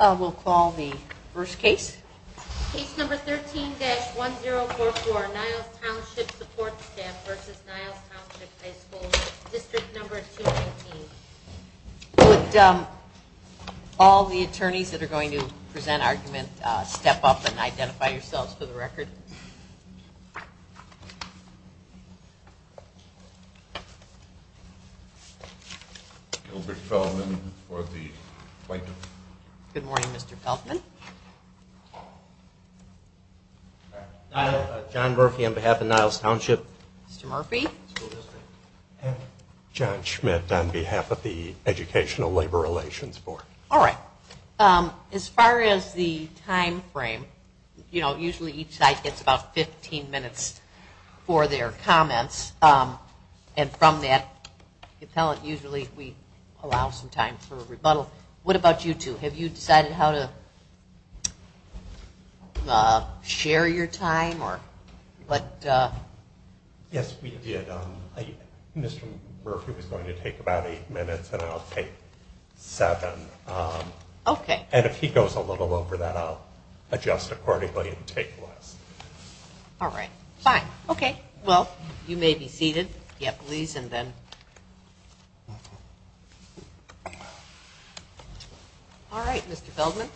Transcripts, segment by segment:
We'll call the first case. Case No. 13-1044, Niles Township Support Staff v. Niles Township High School, Dist. No. 219. Would all the attorneys that are going to present argument step up and identify yourselves for the record? Good morning, Mr. Feldman. John Murphy on behalf of Niles Township. Mr. Murphy. John Schmidt on behalf of the Educational Labor Relations Board. All right. As far as the time frame, you know, usually each side gets about 15 minutes for their comments. And from that, usually we allow some time for a rebuttal. What about you two? Have you decided how to share your time? Yes, we did. Mr. Murphy was going to take about eight minutes, and I'll take seven. And if he goes a little over that, I'll adjust accordingly and take less. All right. Fine. Okay. Well, you may be seated. Yeah, please, and then. All right, Mr. Feldman.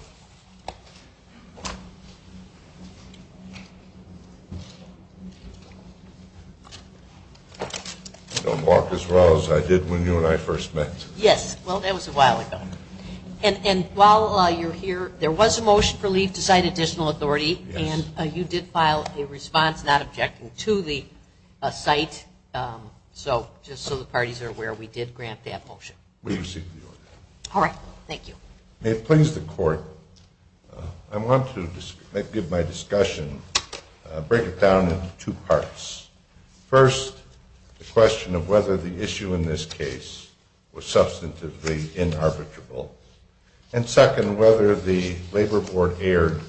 Don't walk as well as I did when you and I first met. Yes, well, that was a while ago. And while you're here, there was a motion for leave to cite additional authority, and you did file a response not objecting to the site. So just so the parties are aware, we did grant that motion. All right. Thank you. May it please the court, I want to give my discussion, break it down into two parts. First, the question of whether the issue in this case was substantively inarbitrable. And second, whether the labor board erred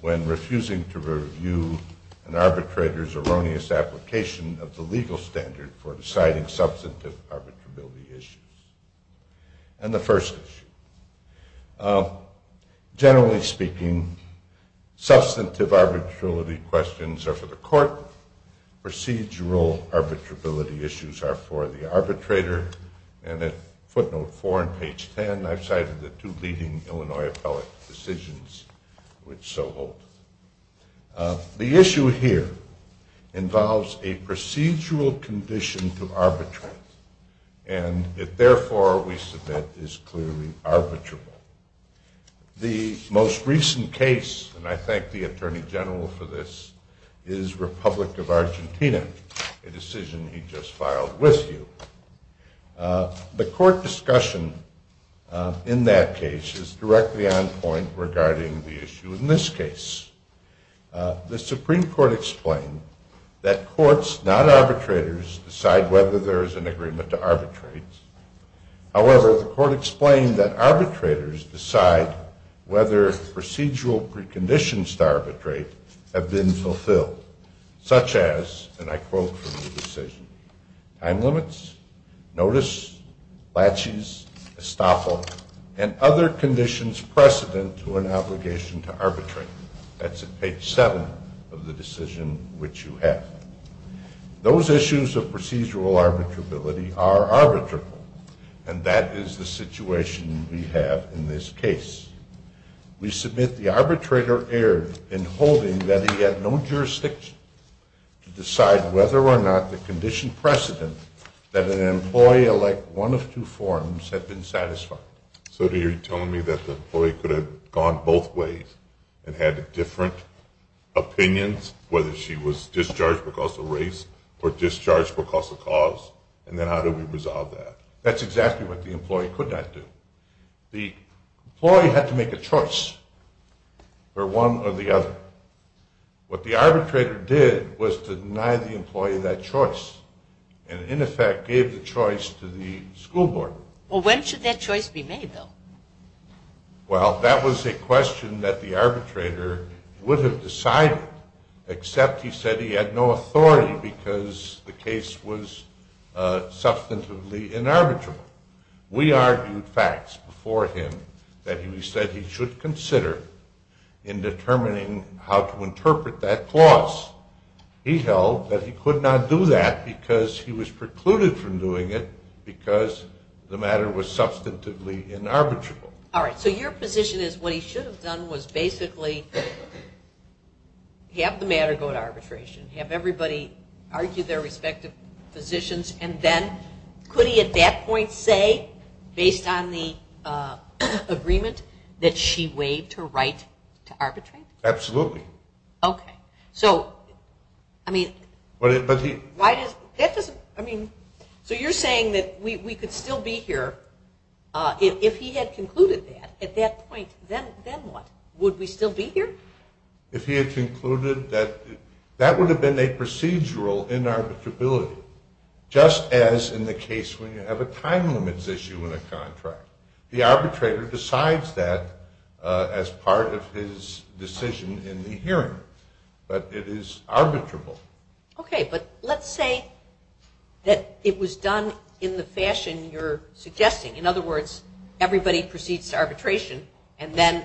when refusing to review an arbitrator's erroneous application of the legal standard for deciding substantive arbitrability issues. And the first issue. Generally speaking, substantive arbitrability questions are for the court. Procedural arbitrability issues are for the arbitrator. And at footnote 4 on page 10, I've cited the two leading Illinois appellate decisions which so hold. The issue here involves a procedural condition to arbitrate. And it therefore, we submit, is clearly arbitrable. The most recent case, and I thank the Attorney General for this, is Republic of Argentina, a decision he just filed with you. The court discussion in that case is directly on point regarding the issue in this case. The Supreme Court explained that courts, not arbitrators, decide whether there is an agreement to arbitrate. However, the court explained that arbitrators decide whether procedural preconditions to arbitrate have been fulfilled, such as, and I quote from the decision, time limits, notice, laches, estoppel, and other conditions precedent to an obligation to arbitrate. That's at page 7 of the decision which you have. Those issues of procedural arbitrability are arbitrable. And that is the situation we have in this case. We submit the arbitrator erred in holding that he had no jurisdiction to decide whether or not the condition precedent that an employee elect one of two forms had been satisfied. So you're telling me that the employee could have gone both ways and had different opinions, whether she was discharged because of race or discharged because of cause, and then how do we resolve that? That's exactly what the employee could not do. The employee had to make a choice for one or the other. What the arbitrator did was to deny the employee that choice, and in effect gave the choice to the school board. Well, when should that choice be made, though? Well, that was a question that the arbitrator would have decided, except he said he had no authority because the case was substantively inarbitrable. We argued facts before him that we said he should consider in determining how to interpret that clause. He held that he could not do that because he was precluded from doing it because the matter was substantively inarbitrable. All right, so your position is what he should have done was basically have the matter go to arbitration, have everybody argue their respective positions, and then could he at that point say, based on the agreement, that she waived her right to arbitrate? Absolutely. Okay, so you're saying that we could still be here. If he had concluded that at that point, then what? Would we still be here? If he had concluded that, that would have been a procedural inarbitrability, just as in the case when you have a time limits issue in a contract. The arbitrator decides that as part of his decision in the hearing, but it is arbitrable. Okay, but let's say that it was done in the fashion you're suggesting. In other words, everybody proceeds to arbitration, and then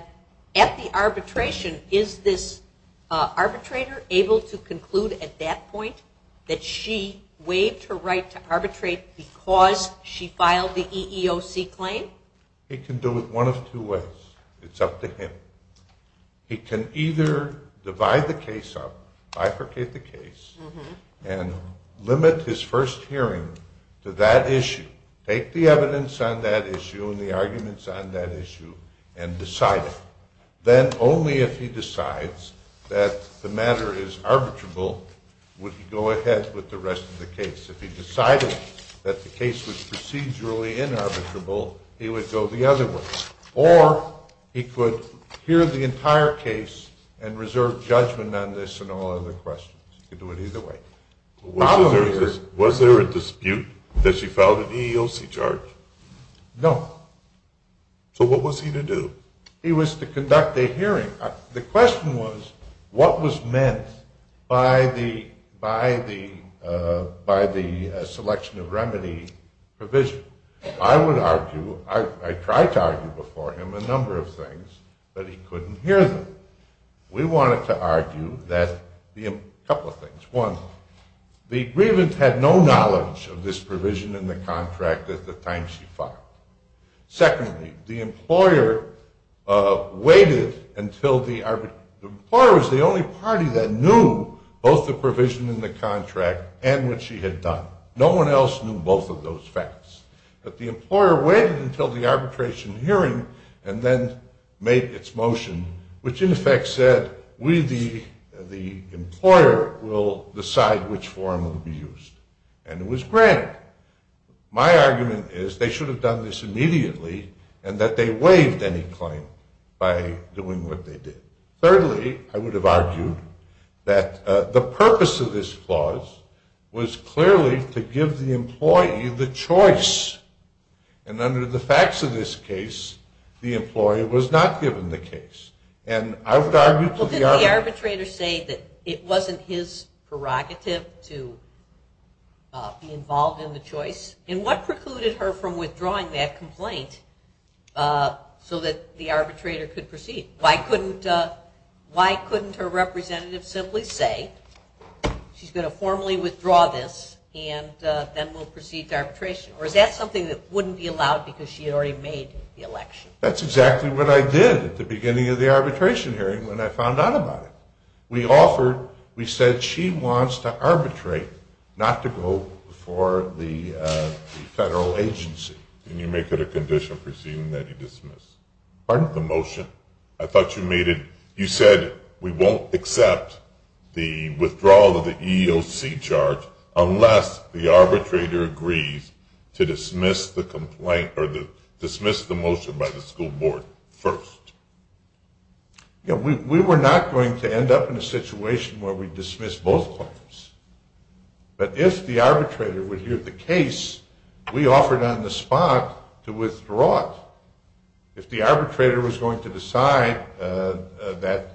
at the arbitration, is this arbitrator able to conclude at that point that she waived her right to arbitrate because she filed the EEOC claim? He can do it one of two ways. It's up to him. He can either divide the case up, bifurcate the case, and limit his first hearing to that issue, take the evidence on that issue and the arguments on that issue, and decide it. Then only if he decides that the matter is arbitrable would he go ahead with the rest of the case. If he decided that the case was procedurally inarbitrable, he would go the other way. Or he could hear the entire case and reserve judgment on this and all other questions. He could do it either way. Was there a dispute that she filed an EEOC charge? No. So what was he to do? He was to conduct a hearing. The question was what was meant by the selection of remedy provision. I would argue, I tried to argue before him a number of things, but he couldn't hear them. We wanted to argue a couple of things. One, the grievance had no knowledge of this provision in the contract at the time she filed. Secondly, the employer waited until the arbitration hearing. The employer was the only party that knew both the provision in the contract and what she had done. No one else knew both of those facts. But the employer waited until the arbitration hearing and then made its motion, which in effect said we the employer will decide which form will be used. And it was granted. My argument is they should have done this immediately and that they waived any claim by doing what they did. Thirdly, I would have argued that the purpose of this clause was clearly to give the employee the choice. And under the facts of this case, the employee was not given the case. Well, didn't the arbitrator say that it wasn't his prerogative to be involved in the choice? And what precluded her from withdrawing that complaint so that the arbitrator could proceed? Why couldn't her representative simply say she's going to formally withdraw this and then we'll proceed to arbitration? Or is that something that wouldn't be allowed because she had already made the election? That's exactly what I did at the beginning of the arbitration hearing when I found out about it. We offered, we said she wants to arbitrate, not to go before the federal agency. Can you make it a condition proceeding that he dismiss? Pardon? The motion. I thought you made it, you said we won't accept the withdrawal of the EEOC charge unless the arbitrator agrees to dismiss the complaint or dismiss the motion by the school board first. We were not going to end up in a situation where we dismissed both claims. But if the arbitrator would hear the case, we offered on the spot to withdraw it. If the arbitrator was going to decide that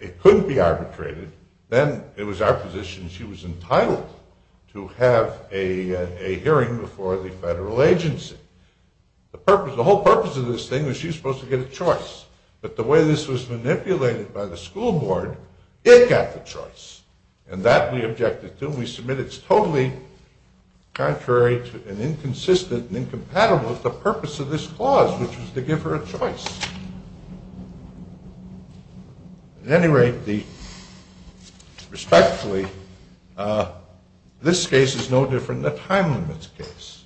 it couldn't be arbitrated, then it was our position that she was entitled to have a hearing before the federal agency. The whole purpose of this thing was she was supposed to get a choice. But the way this was manipulated by the school board, it got the choice. And that we objected to and we submitted. It's totally contrary and inconsistent and incompatible with the purpose of this clause, which was to give her a choice. At any rate, respectfully, this case is no different than the time limits case,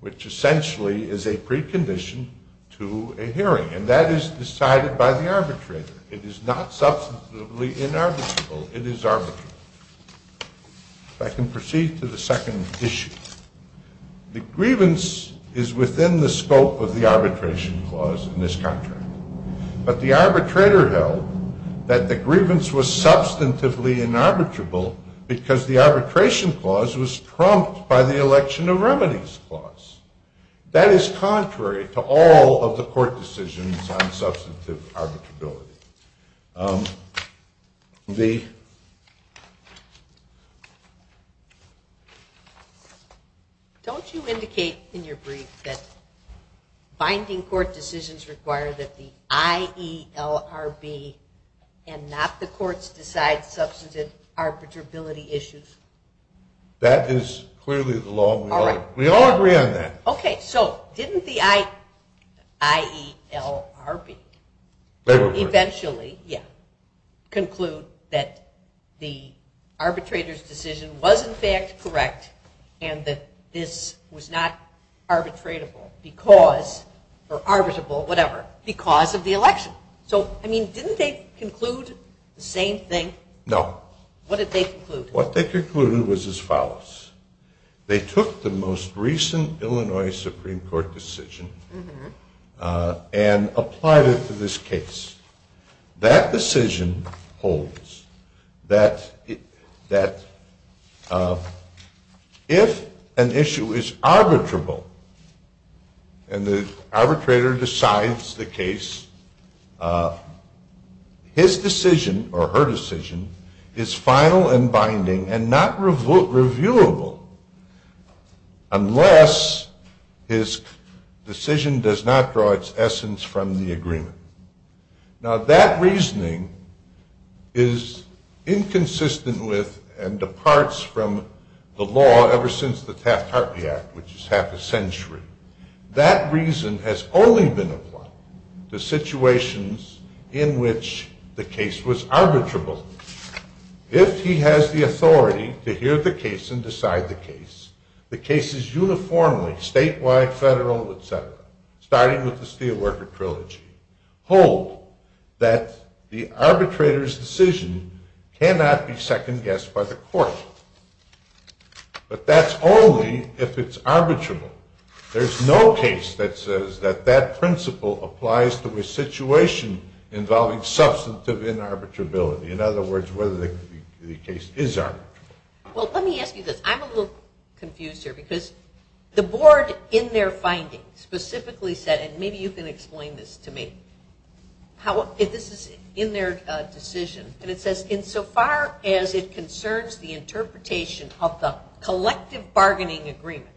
which essentially is a precondition to a hearing. And that is decided by the arbitrator. It is not substantively inarbitrable. It is arbitrary. If I can proceed to the second issue. The grievance is within the scope of the arbitration clause in this contract. But the arbitrator held that the grievance was substantively inarbitrable because the arbitration clause was trumped by the election of remedies clause. That is contrary to all of the court decisions on substantive arbitrability. Don't you indicate in your brief that binding court decisions require that the IELRB and not the courts decide substantive arbitrability issues? That is clearly the law. We all agree on that. Okay. So didn't the IELRB eventually conclude that the arbitrator's decision was in fact correct and that this was not arbitrable because of the election. So didn't they conclude the same thing? No. What did they conclude? What they concluded was as follows. They took the most recent Illinois Supreme Court decision and applied it to this case. That decision holds that if an issue is arbitrable and the arbitrator decides the case, his decision or her decision is final and binding and not reviewable unless his decision does not draw its essence from the agreement. Now that reasoning is inconsistent with and departs from the law ever since the Taft-Hartley Act, which is half a century. That reason has only been applied to situations in which the case was arbitrable. If he has the authority to hear the case and decide the case, the cases uniformly, statewide, federal, etc., starting with the Steelworker Trilogy, hold that the arbitrator's decision cannot be second-guessed by the court. But that's only if it's arbitrable. There's no case that says that that principle applies to a situation involving substantive inarbitrability. In other words, whether the case is arbitrable. Well, let me ask you this. I'm a little confused here because the board in their findings specifically said, and maybe you can explain this to me, this is in their decision, and it says, insofar as it concerns the interpretation of the collective bargaining agreement.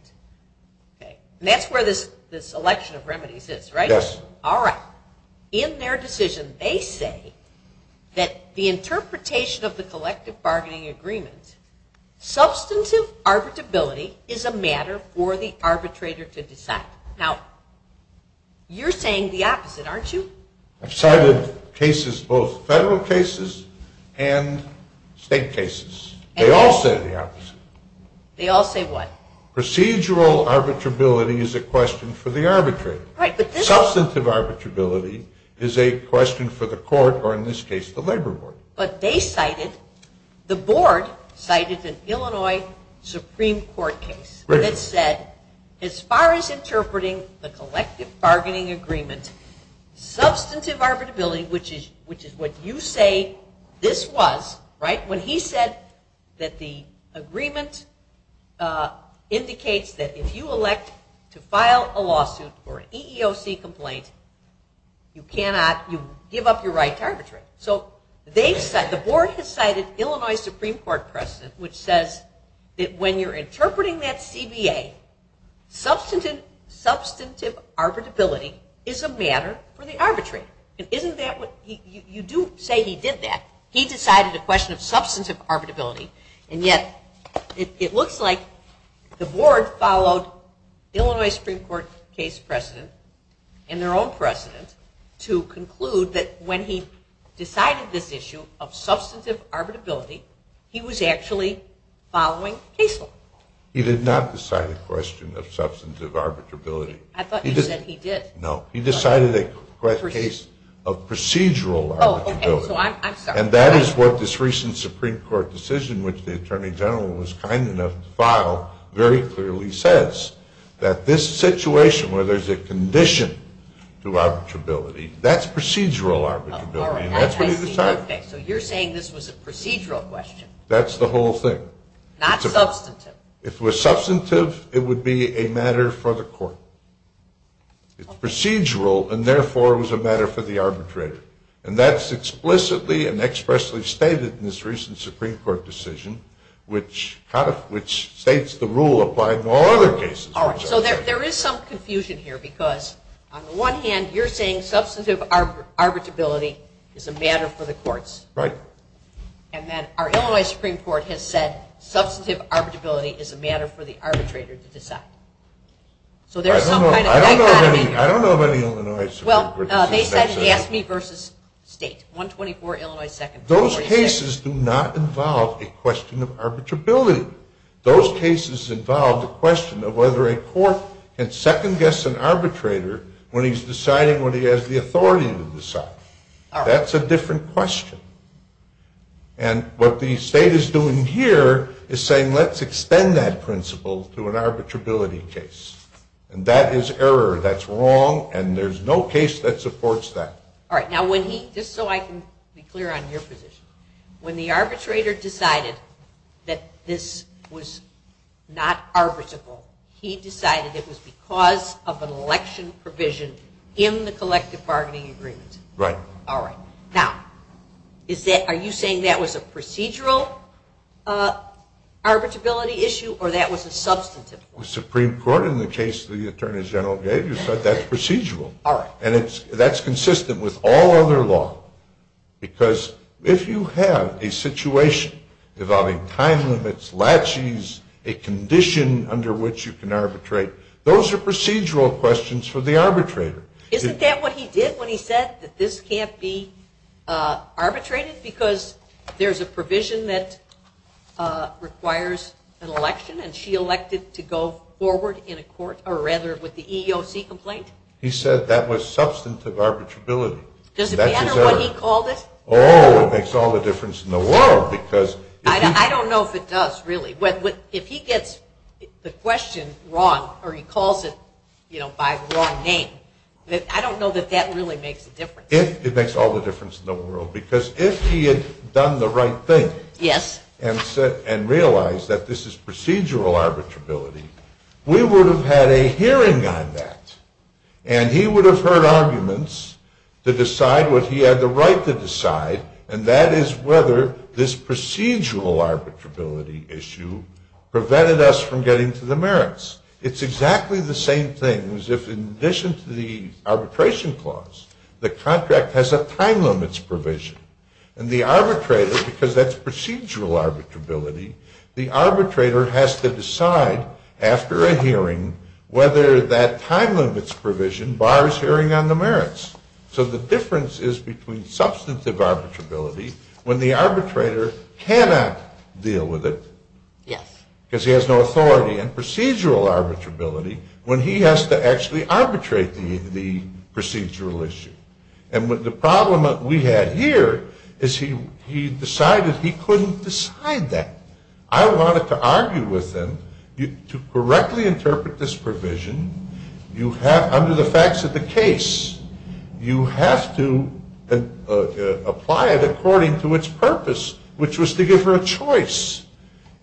And that's where this selection of remedies is, right? Yes. Alright. In their decision, they say that the interpretation of the collective bargaining agreement, substantive arbitrability is a matter for the arbitrator to decide. Now, you're saying the opposite, aren't you? I've cited cases, both federal cases and state cases. They all say the opposite. They all say what? Procedural arbitrability is a question for the arbitrator. Substantive arbitrability is a question for the court, or in this case, the labor board. But they cited, the board cited an Illinois Supreme Court case that said, as far as interpreting the collective bargaining agreement, substantive arbitrability, which is what you say this was, right? When he said that the agreement indicates that if you elect to file a lawsuit or an EEOC complaint, you cannot, you give up your right to arbitrate. So they've cited, the board has cited Illinois Supreme Court precedent which says that when you're interpreting that CBA, substantive arbitrability is a matter for the arbitrator. And isn't that what, you do say he did that. He decided a question of substantive arbitrability, and yet it looks like the board followed Illinois Supreme Court case precedent and their own precedent to conclude that when he decided this issue of substantive arbitrability, he was actually following case law. He did not decide a question of substantive arbitrability. I thought you said he did. No. He decided a case of procedural arbitrability. And that is what this recent Supreme Court decision which the Attorney General was kind enough to file very clearly says, that this situation where there's a condition to arbitrability, that's procedural arbitrability, and that's what he decided. Okay, so you're saying this was a procedural question. That's the whole thing. Not substantive. If it was substantive, it would be a matter for the court. It's procedural, and therefore it was a matter for the arbitrator. And that's explicitly and expressly stated in this recent Supreme Court decision which states the rule applied in all other cases. All right, so there is some confusion here, because on the one hand, you're saying substantive arbitrability is a matter for the courts. Right. And then our Illinois Supreme Court has said substantive arbitrability is a matter for the arbitrator to decide. So there's some kind of dichotomy here. I don't know of any Illinois Supreme Court decision that says that. Well, they said GASME v. State, 124 Illinois 2nd. Those cases do not involve a question of arbitrability. Those cases involve the question of whether a court can second-guess an arbitrator when he's deciding what he has the authority to decide. That's a different question. And what the state is doing here is saying, let's extend that principle to an arbitrability case. And that is error. That's wrong, and there's no case that supports that. All right, just so I can be clear on your position, when the arbitrator decided that this was not arbitrable, he decided it was because of an election provision in the collective bargaining agreement. Right. All right. Now, are you saying that was a procedural arbitrability issue, or that was a substantive one? The Supreme Court, in the case the Attorney General gave, said that's procedural. All right. And that's consistent with all other law. Because if you have a situation involving time limits, laches, a condition under which you can arbitrate, those are procedural questions for the arbitrator. Isn't that what he did when he said that this can't be arbitrated, because there's a provision that requires an election, and she elected to go forward in a court, or rather, with the EEOC complaint? He said that was substantive arbitrability. Does it matter what he called it? Oh, it makes all the difference in the world. I don't know if it does, really. If he gets the question wrong, or he calls it by the wrong name, I don't know that that really makes a difference. It makes all the difference in the world. Because if he had done the right thing and realized that this is procedural arbitrability, we would have had a hearing on that. And he would have heard arguments to decide what he had the right to decide, and that is whether this procedural arbitrability issue prevented us from getting to the merits. It's exactly the same thing as if, in addition to the arbitration clause, the contract has a time limits provision. And the arbitrator, because that's procedural arbitrability, the arbitrator has to decide, after a hearing, whether that time limits provision bars hearing on the merits. So the difference is between substantive arbitrability, when the arbitrator cannot deal with it, because he has no authority, and procedural arbitrability, when he has to actually arbitrate the procedural issue. And the problem that we had here is he decided he couldn't decide that. I wanted to argue with him, to correctly interpret this provision, under the facts of the case, you have to apply it according to its purpose, which was to give her a choice.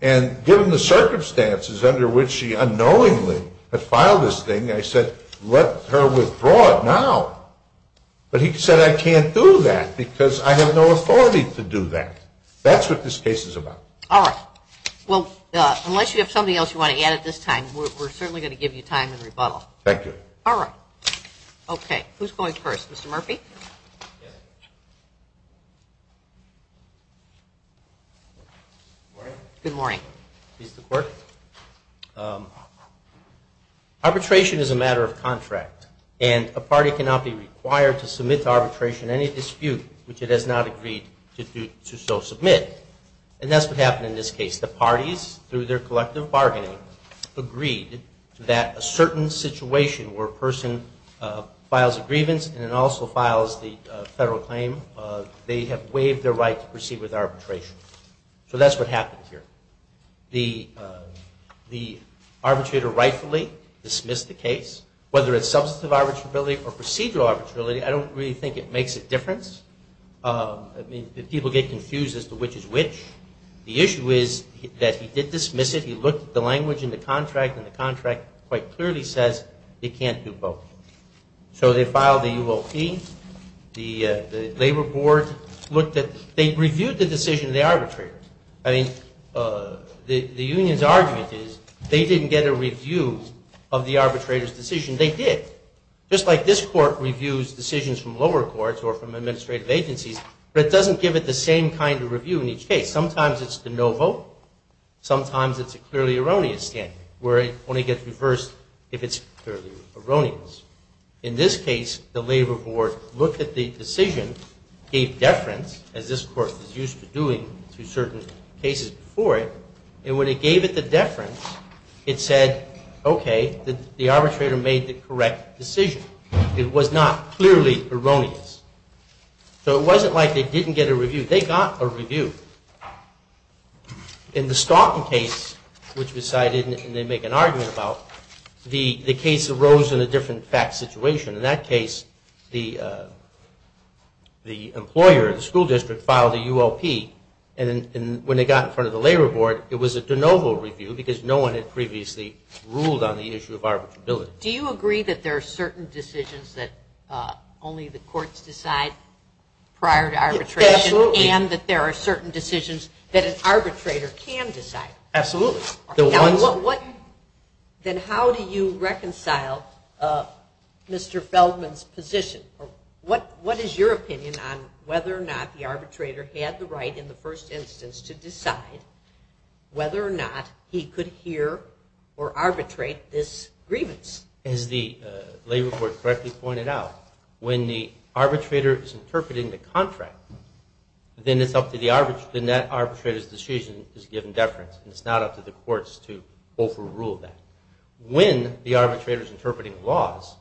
And given the circumstances under which she unknowingly had filed this thing, I said, let her withdraw it now. But he said, I can't do that, because I have no authority to do that. That's what this case is about. All right. Well, unless you have something else you want to add at this time, we're certainly going to give you time in rebuttal. Thank you. All right. Okay. Who's going first? Mr. Murphy? Good morning. Arbitration is a matter of contract, and a party cannot be required to submit to arbitration any dispute which it has not agreed to so submit. And that's what happened in this case. The parties, through their collective bargaining, agreed that a certain situation where a person files a grievance and then also files the federal claim, they have waived their right to proceed with arbitration. So that's what happened here. The arbitrator rightfully dismissed the case. Whether it's substantive arbitrability or procedural arbitrability, I don't really think it makes a difference. I mean, people get confused as to which is which. The issue is that he did dismiss it. He looked at the language in the contract, and the contract quite clearly says they can't do both. So they filed the UOP. The labor board looked at – they reviewed the decision of the arbitrator. I mean, the union's argument is they didn't get a review of the arbitrator's decision. They did. Just like this court reviews decisions from lower courts or from administrative agencies, but it doesn't give it the same kind of review in each case. Sometimes it's the no vote. Sometimes it's a clearly erroneous standard where it only gets reversed if it's clearly erroneous. In this case, the labor board looked at the decision, gave deference, as this court is used to doing to certain cases before it, and when it gave it the deference, it said, okay, the arbitrator made the correct decision. It was not clearly erroneous. So it wasn't like they didn't get a review. They got a review. In the Stoughton case, which was cited and they make an argument about, the case arose in a different fact situation. In that case, the employer, the school district, filed a UOP, and when they got in front of the labor board, it was a de novo review because no one had previously ruled on the issue of arbitrability. So do you agree that there are certain decisions that only the courts decide prior to arbitration and that there are certain decisions that an arbitrator can decide? Absolutely. Then how do you reconcile Mr. Feldman's position? What is your opinion on whether or not the arbitrator had the right in the first instance to decide whether or not he could hear or arbitrate this grievance? As the labor court correctly pointed out, when the arbitrator is interpreting the contract, then it's up to the arbitrator. Then that arbitrator's decision is given deference, and it's not up to the courts to overrule that. When the arbitrator is interpreting laws,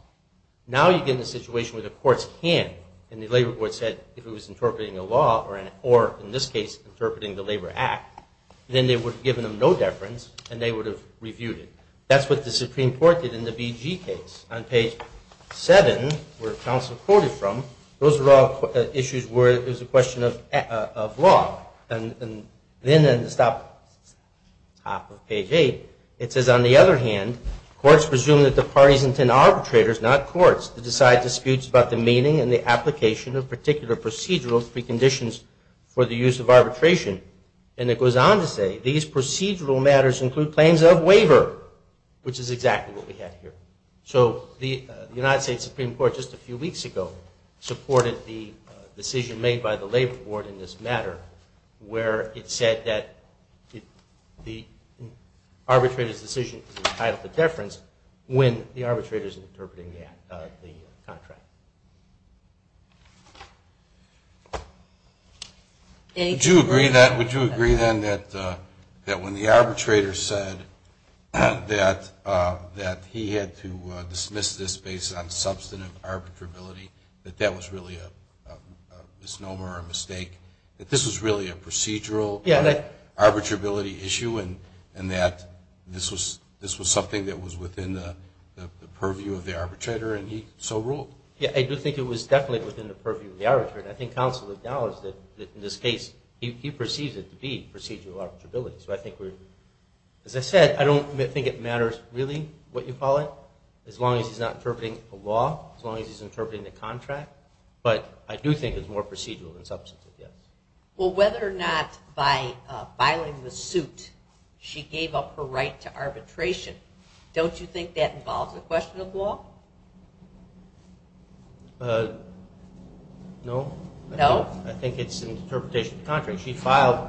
now you get in a situation where the courts can, and the labor board said if it was interpreting a law or, in this case, interpreting the Labor Act, then they would have given them no deference and they would have reviewed it. That's what the Supreme Court did in the BG case. On page 7, where counsel quoted from, those were all issues where it was a question of law. And then at the top of page 8, it says, on the other hand, courts presume that the parties intend arbitrators, not courts, to decide disputes about the meaning and the application of particular procedural preconditions for the use of arbitration. And it goes on to say these procedural matters include claims of waiver, which is exactly what we have here. So the United States Supreme Court just a few weeks ago supported the decision made by the labor board in this matter where it said that the arbitrator's decision is entitled to deference when the arbitrator is interpreting the contract. Would you agree then that when the arbitrator said that he had to dismiss this based on substantive arbitrability, that that was really a misnomer or a mistake, that this was really a procedural arbitrability issue and that this was something that was within the purview of the arbitrator and he so ruled? Yeah, I do think it was definitely within the purview of the arbitrator. And I think counsel acknowledged that in this case, he perceives it to be procedural arbitrability. So I think we're, as I said, I don't think it matters really what you call it, as long as he's not interpreting a law, as long as he's interpreting the contract. But I do think it's more procedural than substantive, yes. Well, whether or not by filing the suit she gave up her right to arbitration, don't you think that involves a question of law? No. I think it's an interpretation of the contract. She filed,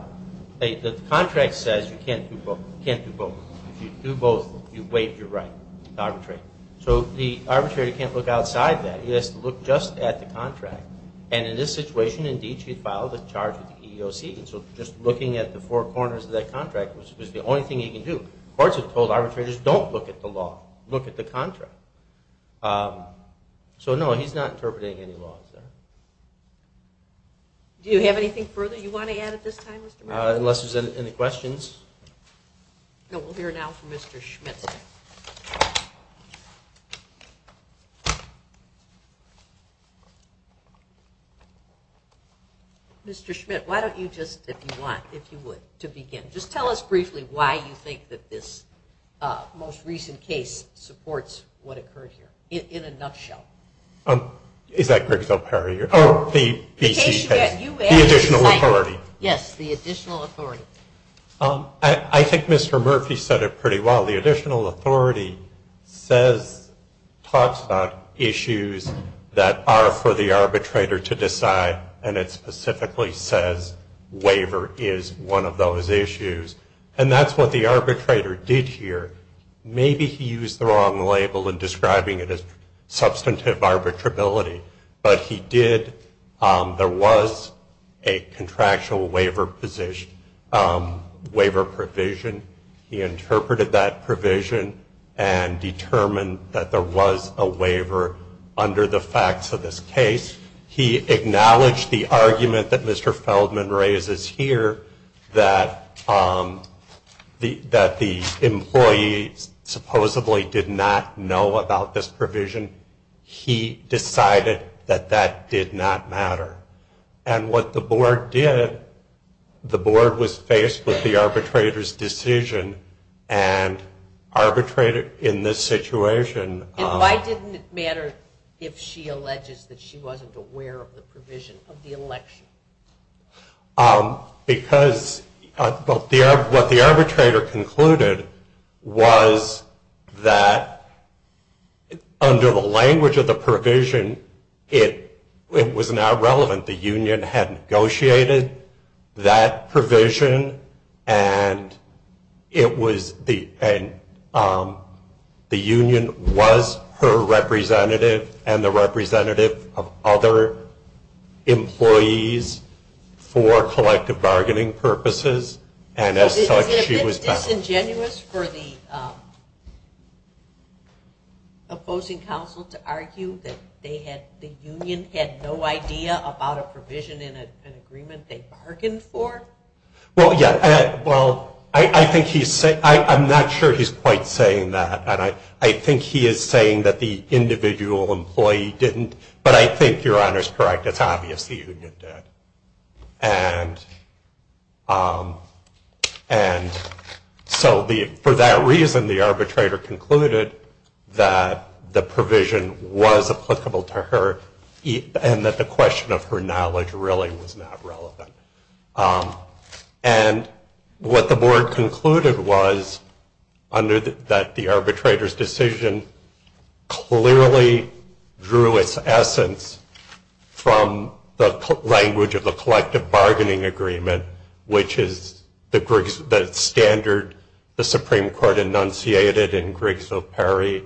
the contract says you can't do both. If you do both, you waive your right to arbitrate. So the arbitrator can't look outside that. He has to look just at the contract. And in this situation, indeed, she filed a charge with the EEOC. So just looking at the four corners of that contract was the only thing he could do. Courts have told arbitrators, don't look at the law, look at the contract. So no, he's not interpreting any law. Do you have anything further you want to add at this time, Mr. Maddow? Unless there's any questions. No, we'll hear now from Mr. Schmidt. Mr. Schmidt, why don't you just, if you want, if you would, to begin. Just tell us briefly why you think that this most recent case supports what occurred here, in a nutshell. Is that Briggs v. O'Perry? The additional authority. Yes, the additional authority. I think Mr. Murphy said it pretty well. The additional authority says, talks about issues that are for the arbitrator to decide, and it specifically says waiver is one of those issues. And that's what the arbitrator did here. Maybe he used the wrong label in describing it as substantive arbitrability, but he did. There was a contractual waiver position, waiver provision. He interpreted that provision and determined that there was a waiver under the facts of this case. He acknowledged the argument that Mr. Feldman raises here, that the employee supposedly did not know about this provision. He decided that that did not matter. And what the board did, the board was faced with the arbitrator's decision and arbitrated in this situation. And why didn't it matter if she alleges that she wasn't aware of the provision of the election? Because what the arbitrator concluded was that under the language of the provision, it was not relevant. The union had negotiated that provision, and the union was her representative and the representative of other employees for collective bargaining purposes. Is it disingenuous for the opposing counsel to argue that the union had no idea about a provision in an agreement they bargained for? Well, I'm not sure he's quite saying that. I think he is saying that the individual employee didn't. But I think Your Honor is correct. It's obvious the union did. And so for that reason, the arbitrator concluded that the provision was applicable to her and that the question of her knowledge really was not relevant. And what the board concluded was that the arbitrator's decision clearly drew its essence from the language of the collective bargaining agreement, which is the standard the Supreme Court enunciated in Grigsville-Perry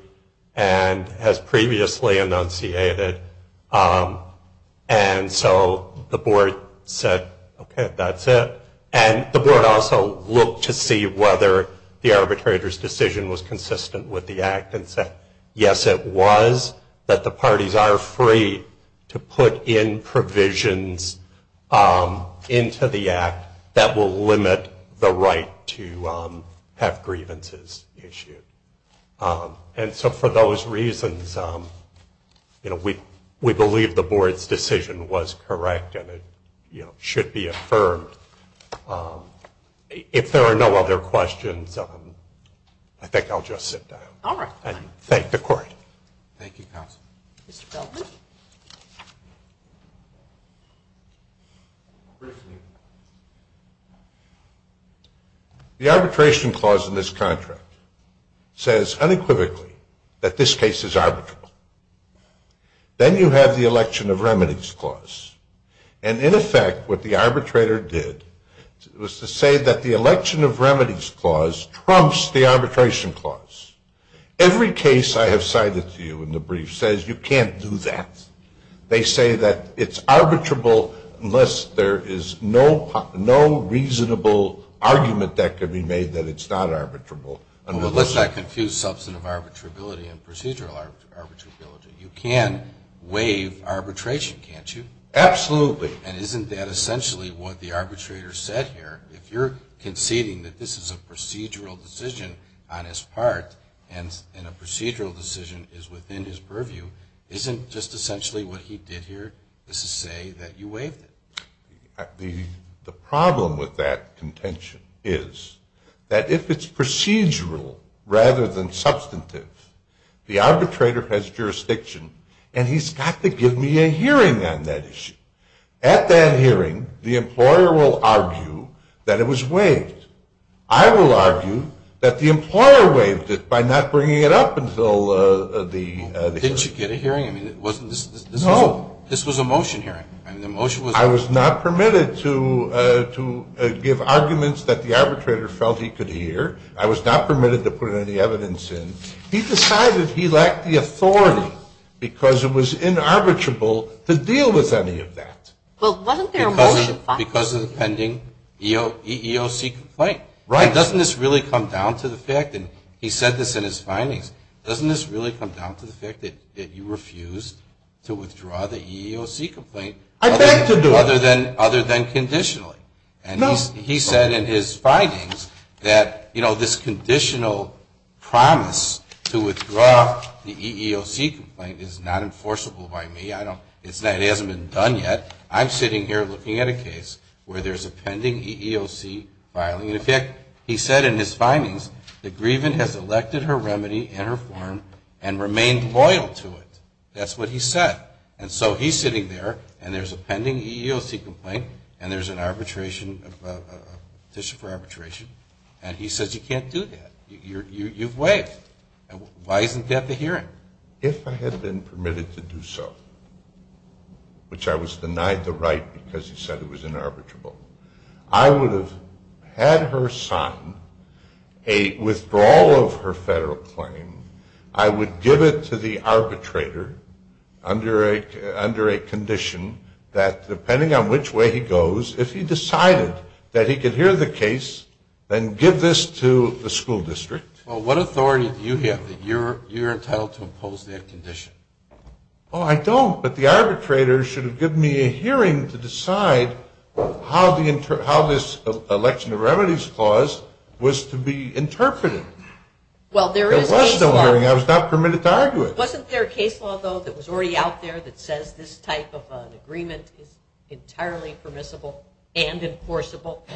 and has previously enunciated. And so the board said, okay, that's it. And the board also looked to see whether the arbitrator's decision was consistent with the Act and said, yes, it was that the parties are free to put in provisions into the Act that will limit the right to have grievances issued. And so for those reasons, we believe the board's decision was correct and it should be affirmed. If there are no other questions, I think I'll just sit down. All right. And thank the court. Thank you, counsel. Mr. Feldman? The arbitration clause in this contract says unequivocally that this case is arbitrable. Then you have the election of remedies clause. And in effect, what the arbitrator did was to say that the election of remedies clause trumps the arbitration clause. Every case I have cited to you in the brief says you can't do that. They say that it's arbitrable unless there is no reasonable argument that can be made that it's not arbitrable. Well, let's not confuse substantive arbitrability and procedural arbitrability. You can waive arbitration, can't you? Absolutely. And isn't that essentially what the arbitrator said here? If you're conceding that this is a procedural decision on his part and a procedural decision is within his purview, isn't just essentially what he did here is to say that you waived it? The problem with that contention is that if it's procedural rather than substantive, the arbitrator has jurisdiction, and he's got to give me a hearing on that issue. At that hearing, the employer will argue that it was waived. I will argue that the employer waived it by not bringing it up until the hearing. Didn't you get a hearing? No. This was a motion hearing. I was not permitted to give arguments that the arbitrator felt he could hear. I was not permitted to put any evidence in. He decided he lacked the authority because it was inarbitrable to deal with any of that. Well, wasn't there a motion? Because of the pending EEOC complaint. Right. Doesn't this really come down to the fact, and he said this in his findings, doesn't this really come down to the fact that you refused to withdraw the EEOC complaint other than conditionally? No. He said in his findings that, you know, this conditional promise to withdraw the EEOC complaint is not enforceable by me. It hasn't been done yet. I'm sitting here looking at a case where there's a pending EEOC filing. In fact, he said in his findings that Grievin has elected her remedy in her form and remained loyal to it. That's what he said. And so he's sitting there, and there's a pending EEOC complaint, and there's an arbitration, a petition for arbitration, and he says you can't do that. Why isn't that the hearing? If I had been permitted to do so, which I was denied the right because he said it was inarbitrable, I would have had her sign a withdrawal of her federal claim. I would give it to the arbitrator under a condition that depending on which way he goes, if he decided that he could hear the case, then give this to the school district. Well, what authority do you have that you're entitled to impose that condition? Oh, I don't, but the arbitrator should have given me a hearing to decide how this election of remedies clause was to be interpreted. Well, there is a case law. There was no hearing. I was not permitted to argue it. Wasn't there a case law, though, that was already out there that says this type of an agreement is entirely permissible and enforceable?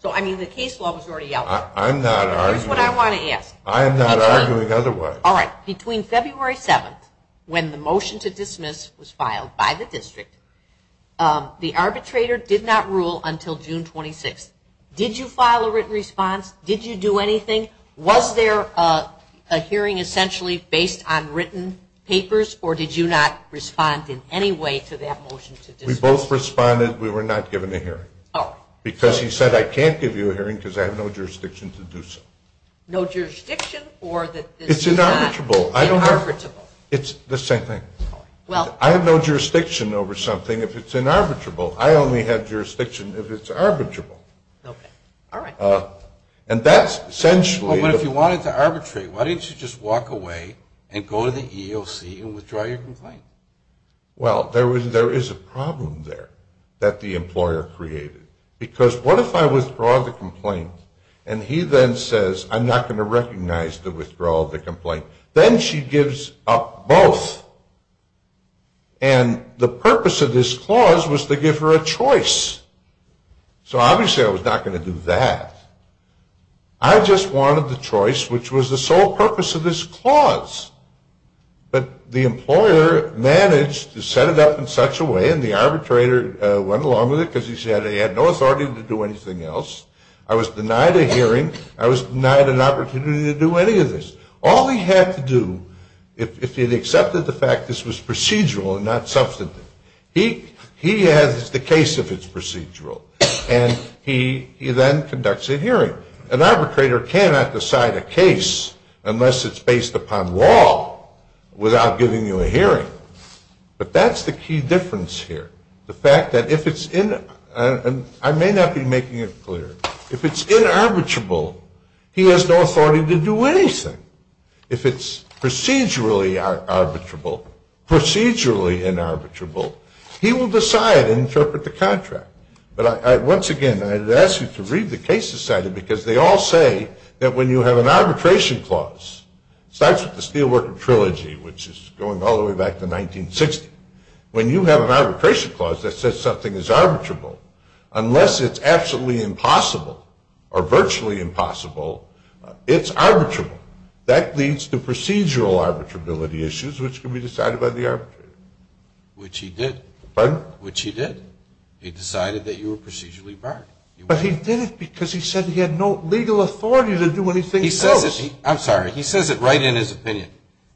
So, I mean, the case law was already out there. I'm not arguing it. That's what I want to ask. I am not arguing otherwise. All right. Between February 7th, when the motion to dismiss was filed by the district, the arbitrator did not rule until June 26th. Did you file a written response? Did you do anything? Was there a hearing essentially based on written papers, or did you not respond in any way to that motion to dismiss? We both responded. We were not given a hearing. Oh. Because he said, I can't give you a hearing because I have no jurisdiction to do so. No jurisdiction or that this is not inarbitrable? It's inarbitrable. I don't know. It's the same thing. Well. I have no jurisdiction over something if it's inarbitrable. I only have jurisdiction if it's arbitrable. Okay. All right. And that's essentially. Well, but if you wanted to arbitrate, why didn't you just walk away and go to the EEOC and withdraw your complaint? Well, there is a problem there that the employer created. Because what if I withdraw the complaint and he then says, I'm not going to recognize the withdrawal of the complaint. Then she gives up both. And the purpose of this clause was to give her a choice. So obviously I was not going to do that. I just wanted the choice, which was the sole purpose of this clause. But the employer managed to set it up in such a way. And the arbitrator went along with it because he said he had no authority to do anything else. I was denied a hearing. I was denied an opportunity to do any of this. All he had to do, if he had accepted the fact this was procedural and not substantive, he has the case if it's procedural. And he then conducts a hearing. An arbitrator cannot decide a case unless it's based upon law without giving you a hearing. But that's the key difference here. The fact that if it's in, and I may not be making it clear, if it's inarbitrable, he has no authority to do anything. If it's procedurally arbitrable, procedurally inarbitrable, he will decide and interpret the contract. But once again, I would ask you to read the case society because they all say that when you have an arbitration clause, it starts with the Steelworker Trilogy, which is going all the way back to 1960. When you have an arbitration clause that says something is arbitrable, unless it's absolutely impossible or virtually impossible, it's arbitrable. That leads to procedural arbitrability issues, which can be decided by the arbitrator. Which he did. Pardon? Which he did. He decided that you were procedurally barred. But he did it because he said he had no legal authority to do anything else. I'm sorry. He says it right in his opinion,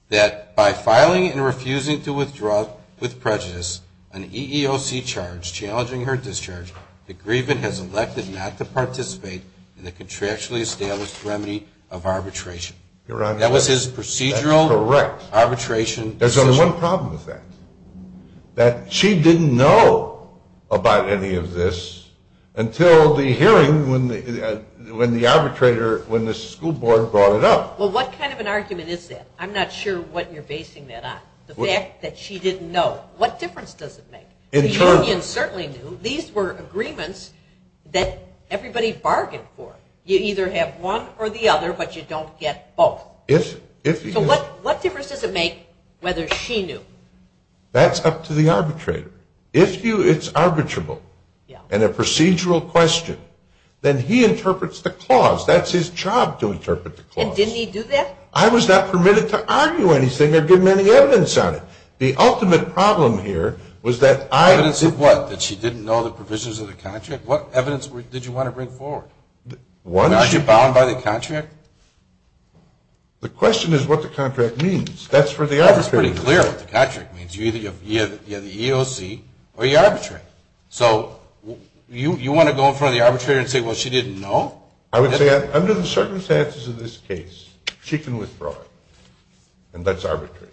that by filing and refusing to withdraw with prejudice an EEOC charge challenging her discharge, the grievant has elected not to participate in the contractually established remedy of arbitration. Your Honor, that's correct. That was his procedural arbitration decision. There's only one problem with that. That she didn't know about any of this until the hearing when the arbitrator, when the school board brought it up. Well, what kind of an argument is that? I'm not sure what you're basing that on. The fact that she didn't know. What difference does it make? The union certainly knew. These were agreements that everybody bargained for. You either have one or the other, but you don't get both. So what difference does it make whether she knew? That's up to the arbitrator. If it's arbitrable and a procedural question, then he interprets the clause. That's his job to interpret the clause. And didn't he do that? I was not permitted to argue anything or give him any evidence on it. The ultimate problem here was that I... Evidence of what? That she didn't know the provisions of the contract? What evidence did you want to bring forward? Was she bound by the contract? The question is what the contract means. That's for the arbitrator to know. That's pretty clear what the contract means. You either have the EOC or you arbitrate. So you want to go in front of the arbitrator and say, well, she didn't know? I would say under the circumstances of this case, she can withdraw it, and that's arbitrary.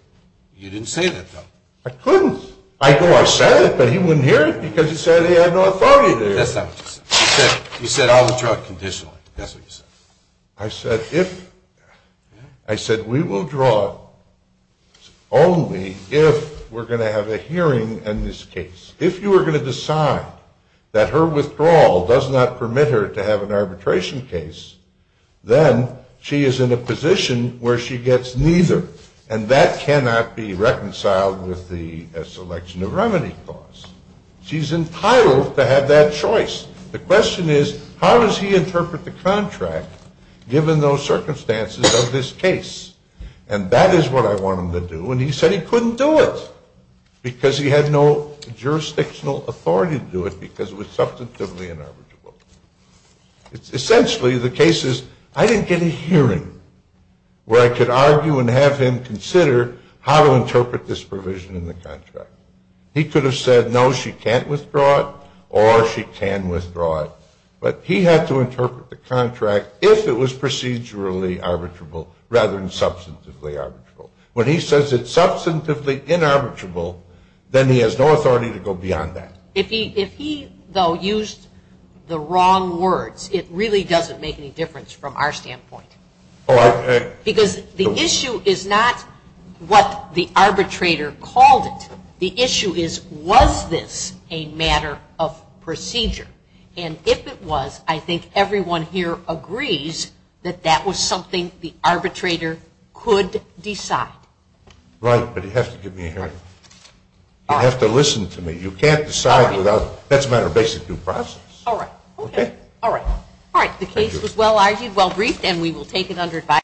You didn't say that, though. I couldn't. You said I'll withdraw it conditionally. That's what you said. I said we will withdraw it only if we're going to have a hearing in this case. If you are going to decide that her withdrawal does not permit her to have an arbitration case, then she is in a position where she gets neither, and that cannot be reconciled with the selection of remedy clause. She's entitled to have that choice. The question is how does he interpret the contract given those circumstances of this case? And that is what I want him to do, and he said he couldn't do it because he had no jurisdictional authority to do it because it was substantively unarbitrable. Essentially, the case is I didn't get a hearing where I could argue and have him consider how to interpret this provision in the contract. He could have said, no, she can't withdraw it or she can withdraw it, but he had to interpret the contract if it was procedurally arbitrable rather than substantively arbitrable. When he says it's substantively inarbitrable, then he has no authority to go beyond that. If he, though, used the wrong words, it really doesn't make any difference from our standpoint. Because the issue is not what the arbitrator called it. The issue is was this a matter of procedure? And if it was, I think everyone here agrees that that was something the arbitrator could decide. Right, but you have to give me a hearing. You have to listen to me. You can't decide without that's a matter of basic due process. All right. Okay. All right. The case was well-argued, well-briefed, and we will take it under advice.